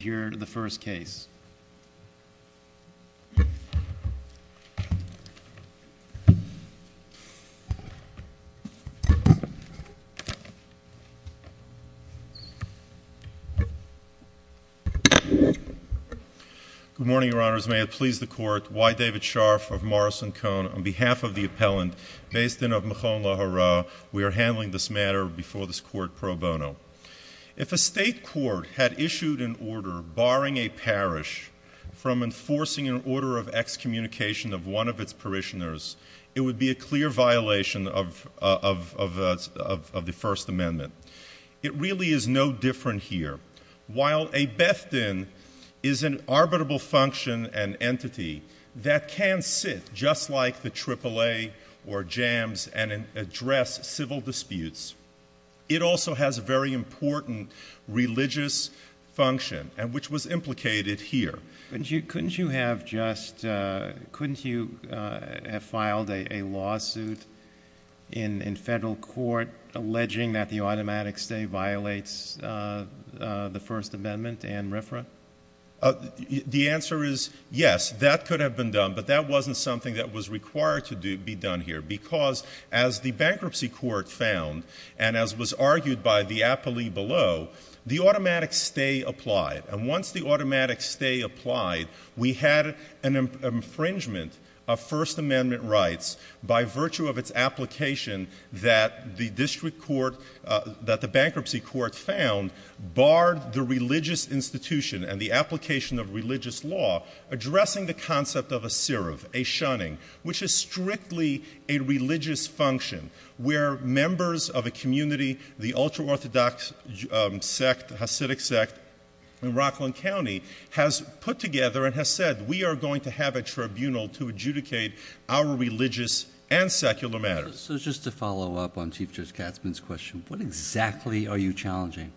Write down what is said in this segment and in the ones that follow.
here in the first case Good morning, your honors. May it please the court, Y. David Scharf of Morrison-Cohn on behalf of the appellant based in Avmikhon Lahara, we are handling this matter before this court pro bono. If a state court had issued an order barring a parish from enforcing an order of excommunication of one of its parishioners it would be a clear violation of the First Amendment. It really is no different here. While a Bethden is an arbitrable function and entity that can sit just like the AAA or JAMS and address civil disputes, it also has a very important religious function and which was implicated here. Couldn't you have just, couldn't you have filed a lawsuit in federal court alleging that the automatic stay violates the First Amendment and RFRA? The answer is yes, that could have been done but that wasn't something that was required to be done here because as the bankruptcy court found and as was argued by the appellee below the automatic stay applied and once the automatic stay applied we had an infringement of First Amendment rights by virtue of its application that the district court, that the bankruptcy court found barred the religious institution and the application of religious law addressing the concept of a syruv, a shunning which is strictly a religious function where members of a community, the ultra-orthodox sect, Hasidic sect in Rockland County has put together and has said we are going to have a tribunal to adjudicate our religious and secular matters. So just to follow up on Chief Judge Katzmann's question, what exactly are you challenging?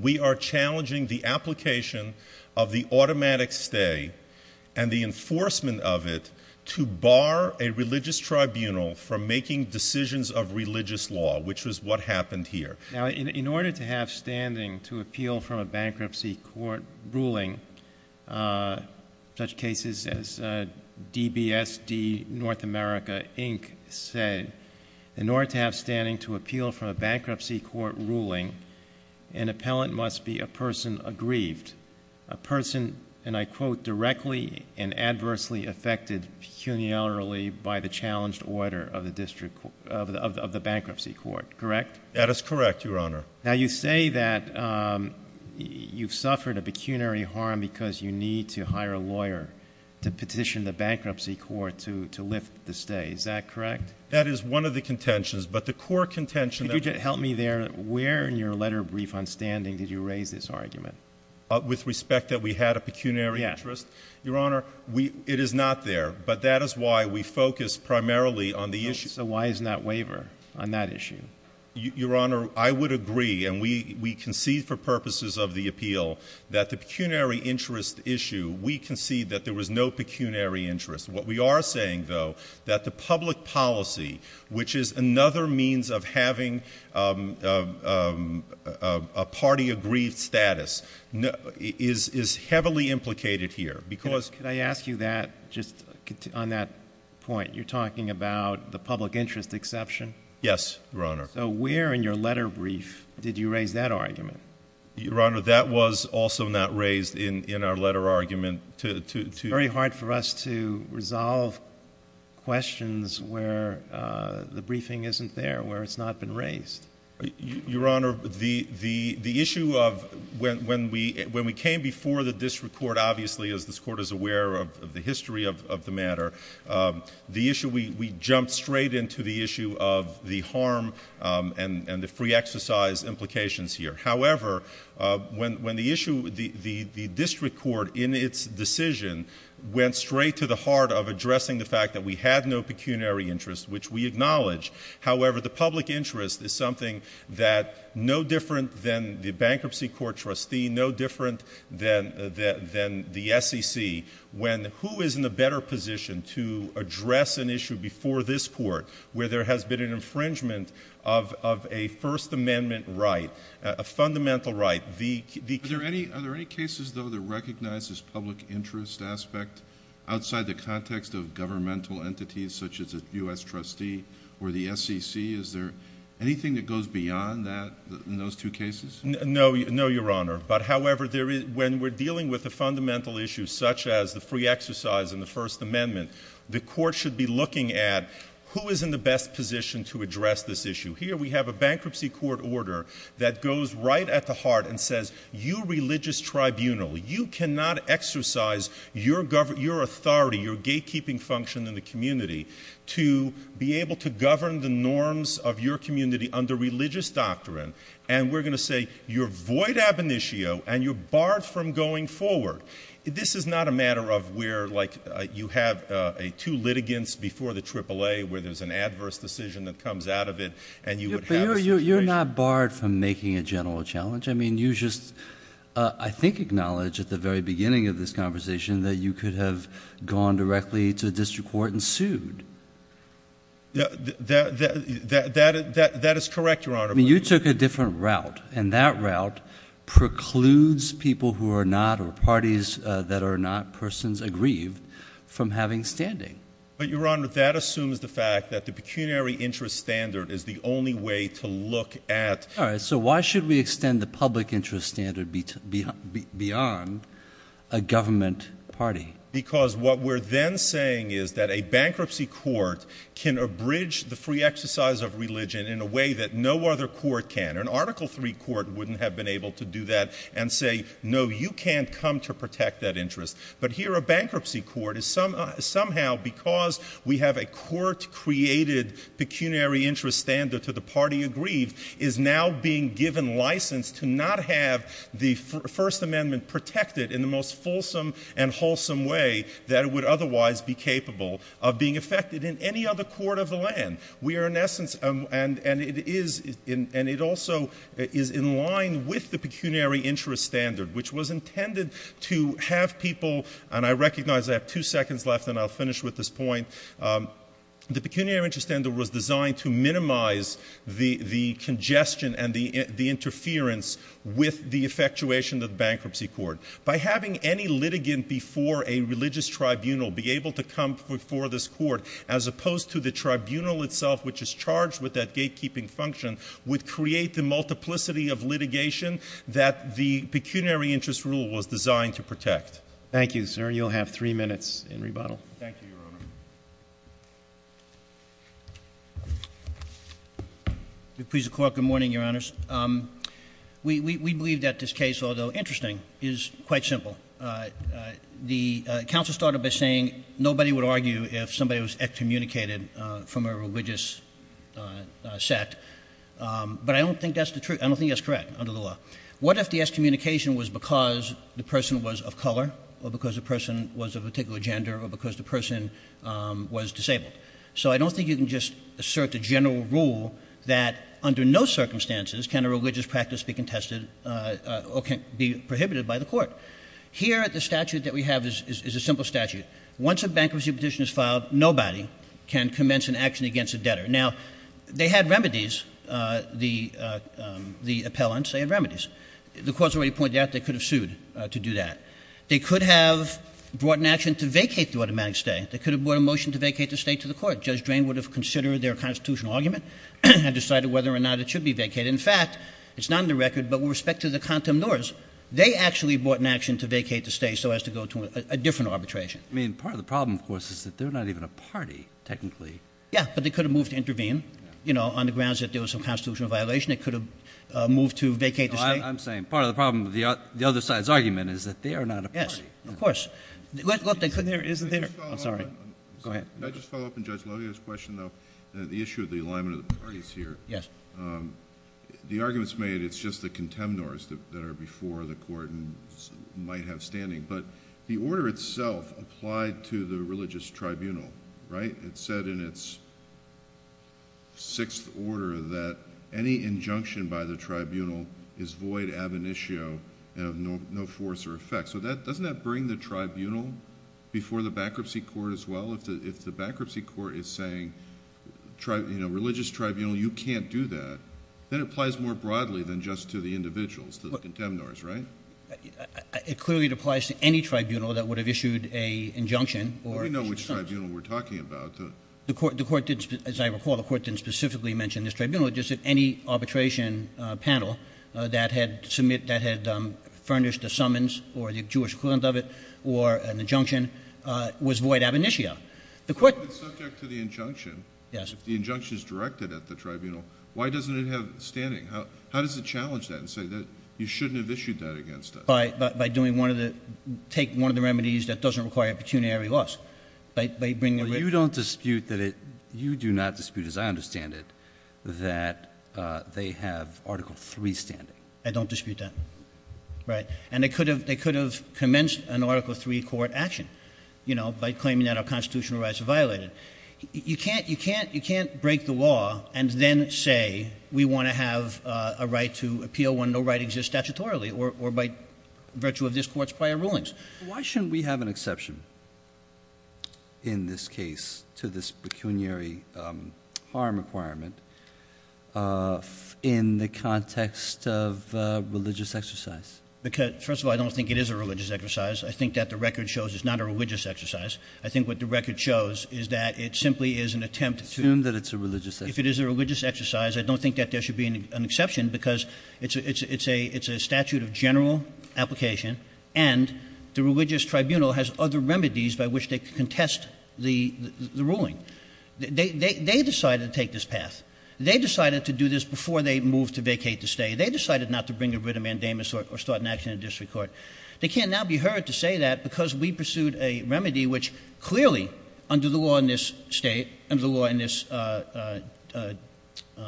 We are challenging the application of the automatic stay and the enforcement of it to bar a religious tribunal from making decisions of religious law which was what happened here. Now in order to have standing to appeal for a bankruptcy court ruling uh... such cases as DBSD North America Inc. said in order to have standing to appeal for a bankruptcy court ruling an appellant must be a person aggrieved a person and I quote directly and adversely affected pecuniarily by the challenged order of the district of the bankruptcy court, correct? That is correct, your honor. Now you say that you've suffered a pecuniary harm because you need to hire a lawyer to petition the bankruptcy court to lift the stay, is that correct? That is one of the contentions, but the core contention... Could you help me there, where in your letter brief on standing did you raise this argument? With respect that we had a pecuniary interest? Your honor, it is not there, but that is why we focus primarily on the issue. So why isn't that waiver on that issue? Your honor, I would agree and we concede for purposes of the appeal that the pecuniary interest issue, we concede that there was no pecuniary interest. What we are saying though that the public policy which is another means of having a party agreed status is heavily implicated here because... Could I ask you that, just on that point, you're talking about the public interest exception? Yes, your honor. So where in your letter brief did you raise that argument? Your honor, that was also not raised in our letter argument. It's very hard for us to resolve questions where the briefing isn't there, where it's not been raised. Your honor, the issue of when we came before the district court, obviously as this court is aware of the history of the matter, the issue, we jumped straight into the issue of the harm and the free exercise implications here. However, when the issue, the district court in its decision went straight to the heart of addressing the fact that we had no pecuniary interest, which we acknowledge. However, the public interest is something that no different than the bankruptcy court trustee, no different than the SEC, when who is in a better position to address an issue before this court where there has been an infringement of a first amendment right, a fundamental right. Are there any cases though that recognize this public interest aspect outside the context of governmental entities such as a U.S. trustee or the SEC? Is there anything that goes beyond that in those two cases? No, your honor, but however, when we're dealing with the fundamental issues such as the free exercise and the first amendment, the court should be looking at who is in the best position to address this issue. Here we have a bankruptcy court order that goes right at the heart and says you religious tribunal, you cannot exercise your authority, your gatekeeping function in the community to be able to govern the norms of your community under religious doctrine and we're going to say you're void ab initio and you're barred from going forward. This is not a matter of where like you have two litigants before the AAA where there's an adverse decision that comes out of it and you would have a situation. You're not barred from making a general challenge. I mean you just I think acknowledge at the very beginning of this conversation that you could have gone directly to district court and sued. That is correct, your honor. You took a different route and that route precludes people who are not or parties that are not persons aggrieved from having standing. But your honor, that assumes the fact that the pecuniary interest standard is the only way to look at... So why should we extend the public interest standard beyond a government party? Because what we're then saying is that a bankruptcy court can abridge the free exercise of religion in a way that no other court can. An article three court wouldn't have been able to do that and say no you can't come to protect that interest but here a bankruptcy court is somehow because we have a court-created pecuniary interest standard to the party aggrieved is now being given license to not have the first amendment protected in the most fulsome and wholesome way that it would otherwise be capable of being affected in any other court of the land. We are in essence, and it is, and it also is in line with the pecuniary interest standard which was intended to have people, and I recognize I have two seconds left and I'll finish with this point, the pecuniary interest standard was designed to minimize the congestion and the interference with the effectuation of the bankruptcy court. By having any litigant before a religious tribunal be able to come before this court as opposed to the tribunal itself which is charged with that gatekeeping function would create the multiplicity of litigation that the pecuniary interest rule was designed to protect. Thank you, sir, you'll have three in rebuttal. Thank you, Your Honor. Good morning, Your Honors. We believe that this case, although interesting, is quite simple. The counsel started by saying nobody would argue if somebody was excommunicated from a religious sect, but I don't think that's the truth, I don't think that's correct under the law. What if the excommunication was because the person was of color or because the person was of a particular gender or because the person was disabled? So I don't think you can just assert a general rule that under no circumstances can a religious practice be contested or can be prohibited by the court. Here at the statute that we have is a simple statute. Once a bankruptcy petition is filed, nobody can commence an action against a debtor. Now, they had remedies, the appellants, they had remedies. The court's already pointed out they could have sued to do that. They could have brought an action to vacate the automatic stay. They could have brought a motion to vacate the stay to the court. Judge Drain would have considered their constitutional argument and decided whether or not it should be vacated. In fact, it's not on the record, but with respect to the contemptors, they actually brought an action to vacate the stay so as to go to a different arbitration. I mean, part of the problem, of course, is that they're not even a party, technically. Yeah, but they could have moved to intervene, you know, on the grounds that there was a constitutional violation. They could have moved to vacate the stay. I'm saying part of the problem with the other side's argument is that they are not a party. Yes, of course. Can I just follow up on Judge Lodeo's question, though? The issue of the alignment of the parties here. Yes. The arguments made, it's just the contemptors that are before the court and might have standing, but the order itself applied to the religious tribunal, right? It said in its sixth order that any injunction by the tribunal is void ab initio and of no force or effect. So doesn't that bring the tribunal before the bankruptcy court as well? If the bankruptcy court is saying, you know, religious tribunal, you can't do that, then it applies more broadly than just to the individuals, to the contemptors, right? It clearly applies to any tribunal that would have issued an injunction. Let me know which tribunal we're talking about. As I recall, the court didn't specifically mention this tribunal. It just said any arbitration panel that had furnished a summons or the Jewish equivalent of it or an injunction was void ab initio. So if it's subject to the injunction, if the injunction is directed at the tribunal, why doesn't it have standing? How does it challenge that and say that you shouldn't have issued that against us? By doing one of the remedies that doesn't require a pecuniary loss. You don't dispute that it, you do not dispute, as I understand it, that they have Article III standing. I don't dispute that, right? And they could have commenced an Article III court action, you know, by claiming that our constitutional rights are violated. You can't break the law and then say we want to have a right to appeal when no right exists statutorily or by virtue of this court's prior rulings. Why shouldn't we have an exception in this case to this pecuniary harm requirement in the context of religious exercise? Because, first of all, I don't think it is a religious exercise. I think that the record shows it's not a religious exercise. I think what the record shows is that it simply is an attempt to... Assume that it's a religious exercise. If it is a religious exercise, I don't think that there should be an exception because it's a statute of general application and the religious tribunal has other remedies by which they can contest the ruling. They decided to take this path. They decided to do this before they moved to vacate the state. They decided not to bring a written mandamus or start an action in a district court. They can't now be heard to say that because we pursued a remedy which, clearly, under the law in this state, under the law in this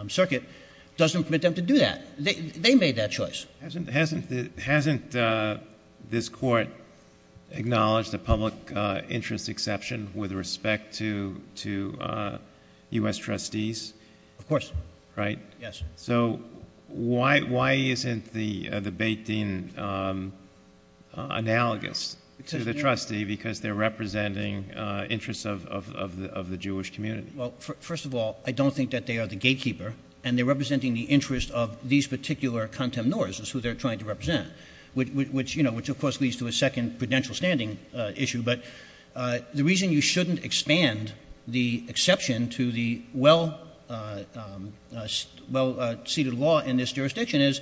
circuit, doesn't permit them to do that. They made that choice. Hasn't this court acknowledged a public interest exception with respect to U.S. trustees? Of course. Right? Yes. So why isn't the debate, Dean, analogous to the trustee because they're representing interests of the Jewish community? Well, first of all, I don't think that they are the gatekeeper and they're representing the interest of these particular Kantemnors, who they're trying to represent, which, you know, which, of course, leads to a second prudential standing issue. But the reason you shouldn't expand the exception to the well-seated law in this jurisdiction is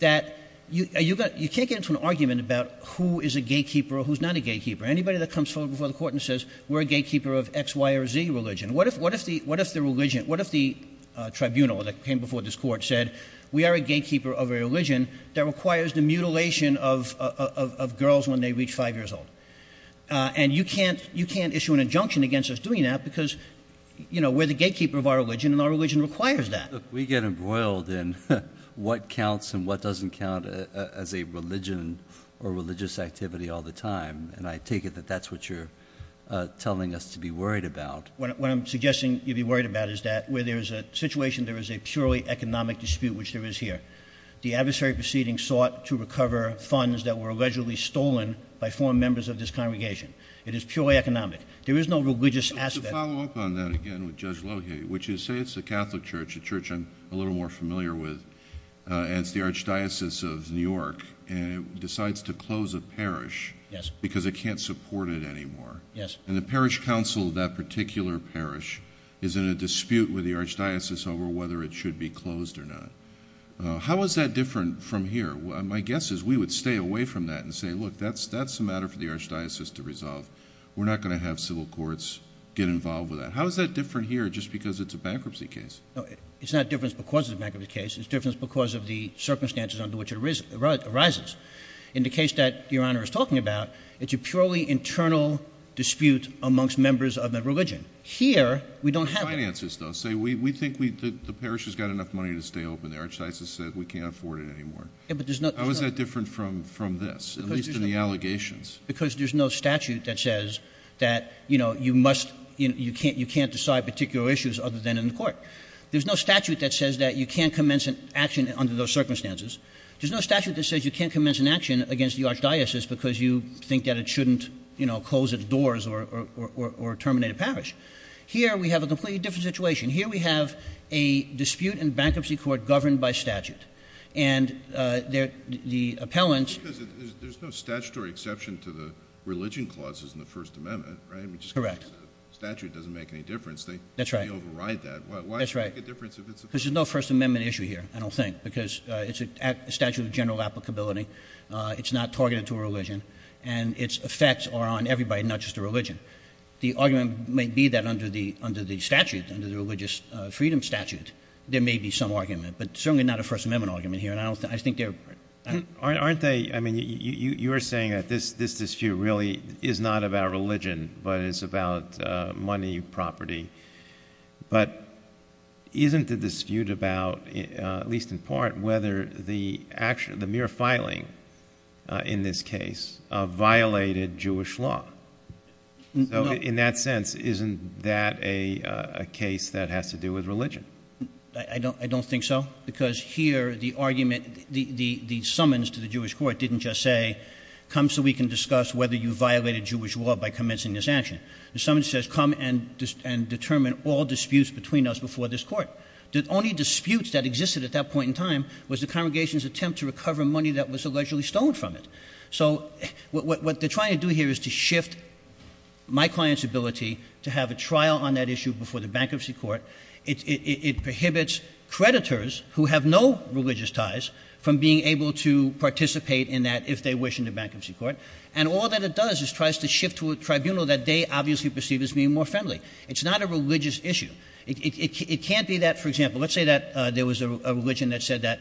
that you can't get into an argument about who is a gatekeeper or who's not a gatekeeper. Anybody that comes forward before the court and says we're a gatekeeper of X, Y, or Z religion, what if the tribunal that came before this court said we are a gatekeeper of a religion that requires the mutilation of girls when they reach five years old? And you can't issue an injunction against us doing that because, you know, we're the gatekeeper of our religion and our religion requires that. Look, we get embroiled in what counts and what doesn't count as a religion or religious activity all the time. And I take it that that's what you're telling us to be worried about. What I'm suggesting you'd be worried about is that where there is a situation, there is a purely economic dispute, which there is here. The adversary proceeding sought to recover funds that were allegedly stolen by foreign members of this congregation. It is purely economic. There is no religious aspect. To follow up on that again with Judge Lohe, would you say it's the Catholic Church, a church I'm a little more familiar with, and it's the Archdiocese of New York, and it decides to close a parish because it can't support it anymore? Yes. And the parish council of that particular parish is in a dispute with the archdiocese over whether it should be closed or not. How is that different from here? My guess is we would stay away from that and say, look, that's a matter for the archdiocese to resolve. We're not going to have civil courts get involved with that. How is that different here just because it's a bankruptcy case? No, it's not different because it's a bankruptcy case. It's different because of the circumstances under which it arises. In the case that Your Honor is talking about, it's a purely internal dispute amongst members of the religion. Here, we don't have it. Finances, though. Say we think the parish has got enough money to stay open. The archdiocese said we can't afford it anymore. How is that different from this, at least in the allegations? Because there's no statute that says that you can't decide particular issues other than in the court. There's no statute that says that you can't commence an action under those circumstances. There's no statute that says you can't commence an action against the archdiocese because you think that it shouldn't close its doors or terminate a parish. Here, we have a completely different situation. Here, we have a dispute in bankruptcy court governed by statute. And the appellants— Because there's no statutory exception to the religion clauses in the First Amendment, right? Correct. Statute doesn't make any difference. That's right. They override that. That's right. Why make a difference if it's— Because there's no First Amendment issue here, I don't think. Because it's a statute of general applicability. It's not targeted to a religion. And its effects are on everybody, not just the religion. The argument may be that under the statute, under the religious freedom statute, there may be some argument. But certainly not a First Amendment argument here. And I don't think— Aren't they—I mean, you are saying that this dispute really is not about religion, but it's about money, property. But isn't the dispute about, at least in part, whether the mere filing in this case violated Jewish law? So in that sense, isn't that a case that has to do with religion? I don't think so. Because here, the argument, the summons to the Jewish court didn't just say, come so we can discuss whether you violated Jewish law by commencing this action. The summons says, come and determine all disputes between us before this court. The only disputes that existed at that point in time was the congregation's attempt to recover money that was allegedly stolen from it. So what they're trying to do here is to shift my client's ability to have a trial on that issue before the bankruptcy court. It prohibits creditors who have no religious ties from being able to participate in that, if they wish, in the bankruptcy court. And all that it does is tries to shift to a tribunal that they obviously perceive as being more friendly. It's not a religious issue. It can't be that, for example, let's say that there was a religion that said that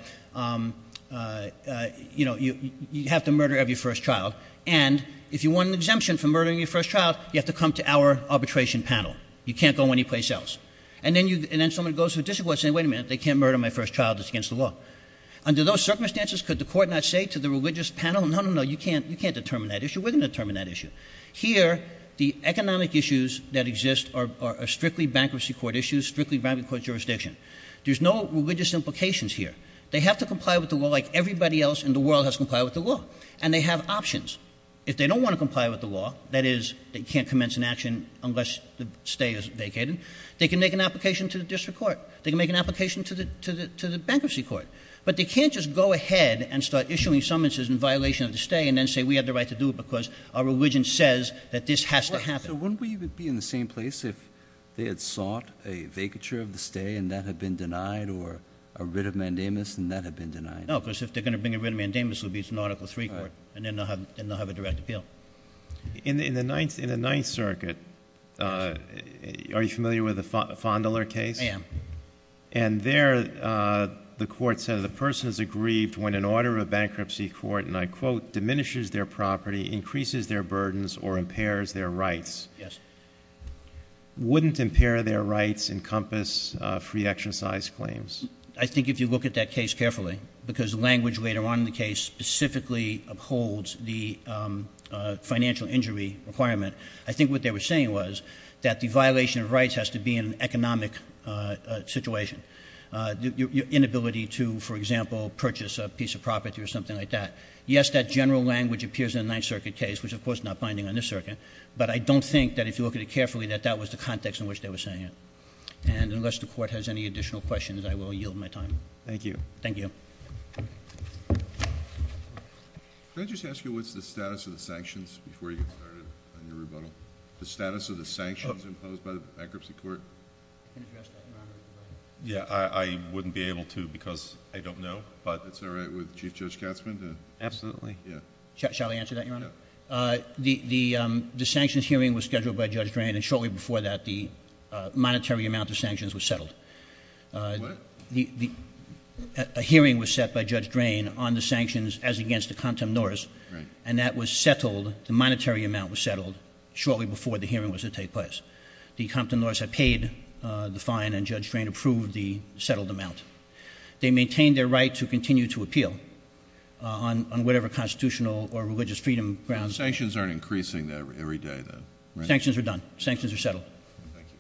you have to murder every first child. And if you want an exemption for murdering your first child, you have to come to our arbitration panel. You can't go anyplace else. And then someone goes to a district court and says, wait a minute, they can't murder my first child. It's against the law. Under those circumstances, could the court not say to the religious panel, no, no, no, you can't determine that issue. We're going to determine that issue. Here, the economic issues that exist are strictly bankruptcy court issues, strictly bankruptcy court jurisdiction. There's no religious implications here. They have to comply with the law like everybody else in the world has complied with the law. And they have options. If they don't want to comply with the law, that is, they can't commence an action unless the stay is vacated, they can make an application to the district court. They can make an application to the bankruptcy court. But they can't just go ahead and start issuing summonses in violation of the stay and then say we have the right to do it because our religion says that this has to happen. So wouldn't we be in the same place if they had sought a vacature of the stay and that had been denied or a writ of mandamus and that had been denied? No, because if they're going to bring a writ of mandamus, it'll be an article three court and then they'll have a direct appeal. In the Ninth Circuit, are you familiar with the Fondler case? I am. And there the court said the person is aggrieved when an order of bankruptcy court, and I quote, diminishes their property, increases their burdens, or impairs their rights. Yes. Wouldn't impair their rights encompass free exercise claims? I think if you look at that case carefully, because the language later on in the case specifically upholds the financial injury requirement, I think what they were saying was that the violation of rights has to be an economic situation. Your inability to, for example, purchase a piece of property or something like that. Yes, that general language appears in the Ninth Circuit case, which of course is not binding on this circuit. But I don't think that if you look at it carefully that that was the context in which they were saying it. And unless the court has any additional questions, I will yield my time. Thank you. Thank you. Can I just ask you what's the status of the sanctions before you get started on your rebuttal? The status of the sanctions imposed by the bankruptcy court? You can address that, Your Honor, if you'd like. Yeah, I wouldn't be able to because I don't know, but it's all right with Chief Judge Katzmann to- Yeah. Shall I answer that, Your Honor? Yeah. The sanctions hearing was scheduled by Judge Drain, and shortly before that, the monetary amount of sanctions was settled. What? A hearing was set by Judge Drain on the sanctions as against the contempt notice. Right. That was settled. The monetary amount was settled shortly before the hearing was to take place. The contempt notice had paid the fine, and Judge Drain approved the settled amount. They maintained their right to continue to appeal on whatever constitutional or religious freedom grounds- Sanctions aren't increasing every day then, right? Sanctions are done. Sanctions are settled. Thank you.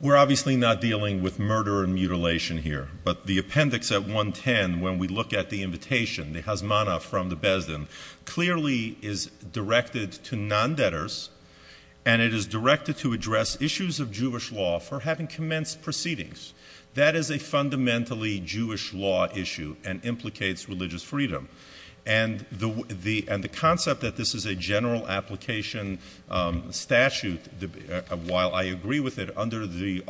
We're obviously not dealing with murder and mutilation here. But the appendix at 110, when we look at the invitation, the hazmanah from the bezdim, clearly is directed to non-debtors, and it is directed to address issues of Jewish law for having commenced proceedings. That is a fundamentally Jewish law issue and implicates religious freedom. And the concept that this is a general application statute, while I agree with it, under the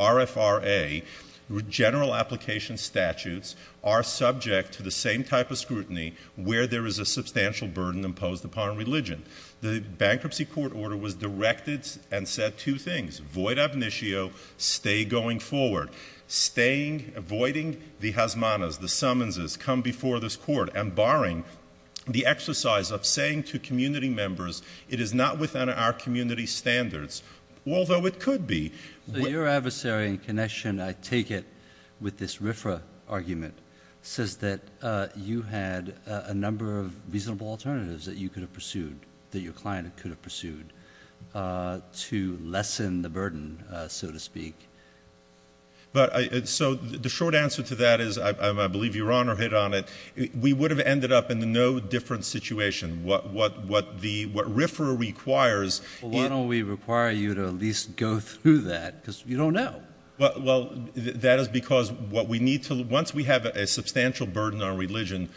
statutes are subject to the same type of scrutiny where there is a substantial burden imposed upon religion. The bankruptcy court order was directed and said two things, void ab initio, stay going forward. Avoiding the hazmanahs, the summonses, come before this court, and barring the exercise of saying to community members, it is not within our community standards, although it could be. Your adversary in connection, I take it, with this RFRA argument, says that you had a number of reasonable alternatives that you could have pursued, that your client could have pursued, to lessen the burden, so to speak. So the short answer to that is, I believe Your Honor hit on it, we would have ended up in no different situation. What RFRA requires— Why don't we require you to at least go through that? Because you don't know. Well, that is because what we need to—once we have a substantial burden on religion,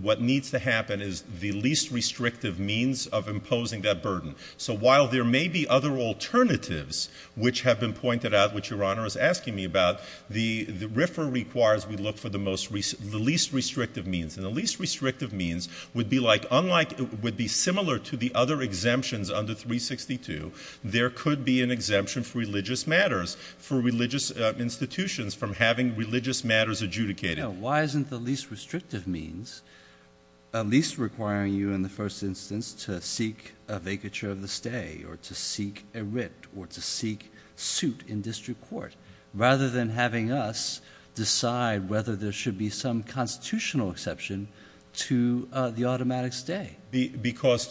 what needs to happen is the least restrictive means of imposing that burden. So while there may be other alternatives, which have been pointed out, which Your Honor is asking me about, the RFRA requires we look for the least restrictive means. And the least restrictive means would be like—unlike—would be similar to the other exemptions under 362, there could be an exemption for religious matters, for religious institutions from having religious matters adjudicated. No, why isn't the least restrictive means at least requiring you in the first instance to seek a vacature of the stay or to seek a writ or to seek suit in district court, rather than having us decide whether there should be some constitutional exception to the automatic stay? Because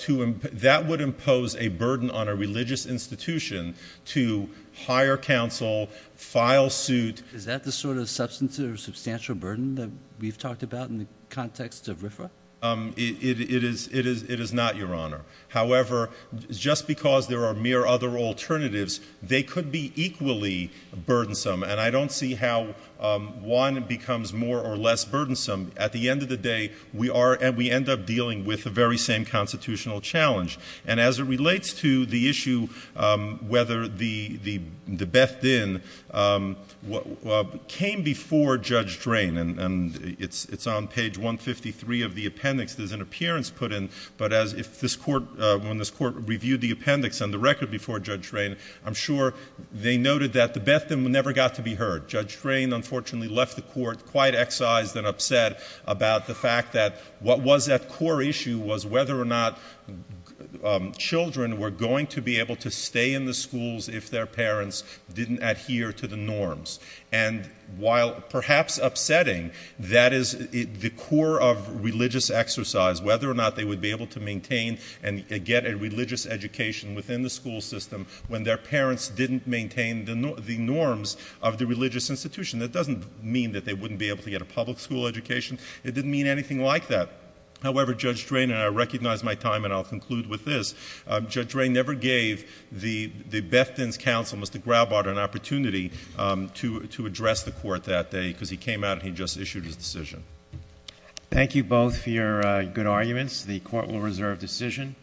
that would impose a burden on a religious institution to hire counsel, file suit— Is that the sort of substantial burden that we've talked about in the context of RFRA? It is not, Your Honor. However, just because there are mere other alternatives, they could be equally burdensome. And I don't see how one becomes more or less burdensome. At the end of the day, we are—and we end up dealing with the very same constitutional challenge. And as it relates to the issue whether the Beth Din came before Judge Drain, and it's on page 153 of the appendix. There's an appearance put in, but as—if this Court—when this Court reviewed the appendix and the record before Judge Drain, I'm sure they noted that the Beth Din never got to be heard. Judge Drain, unfortunately, left the Court quite excised and upset about the fact that what was at core issue was whether or not children were going to be able to stay in the schools if their parents didn't adhere to the norms. And while perhaps upsetting, that is the core of religious exercise, whether or not they would be able to maintain and get a religious education within the school system when their That doesn't mean that they wouldn't be able to get a public school education. It didn't mean anything like that. However, Judge Drain—and I recognize my time and I'll conclude with this—Judge Drain never gave the Beth Din's counsel, Mr. Graubard, an opportunity to address the Court that day because he came out and he just issued his decision. Thank you both for your good arguments. The Court will reserve decision.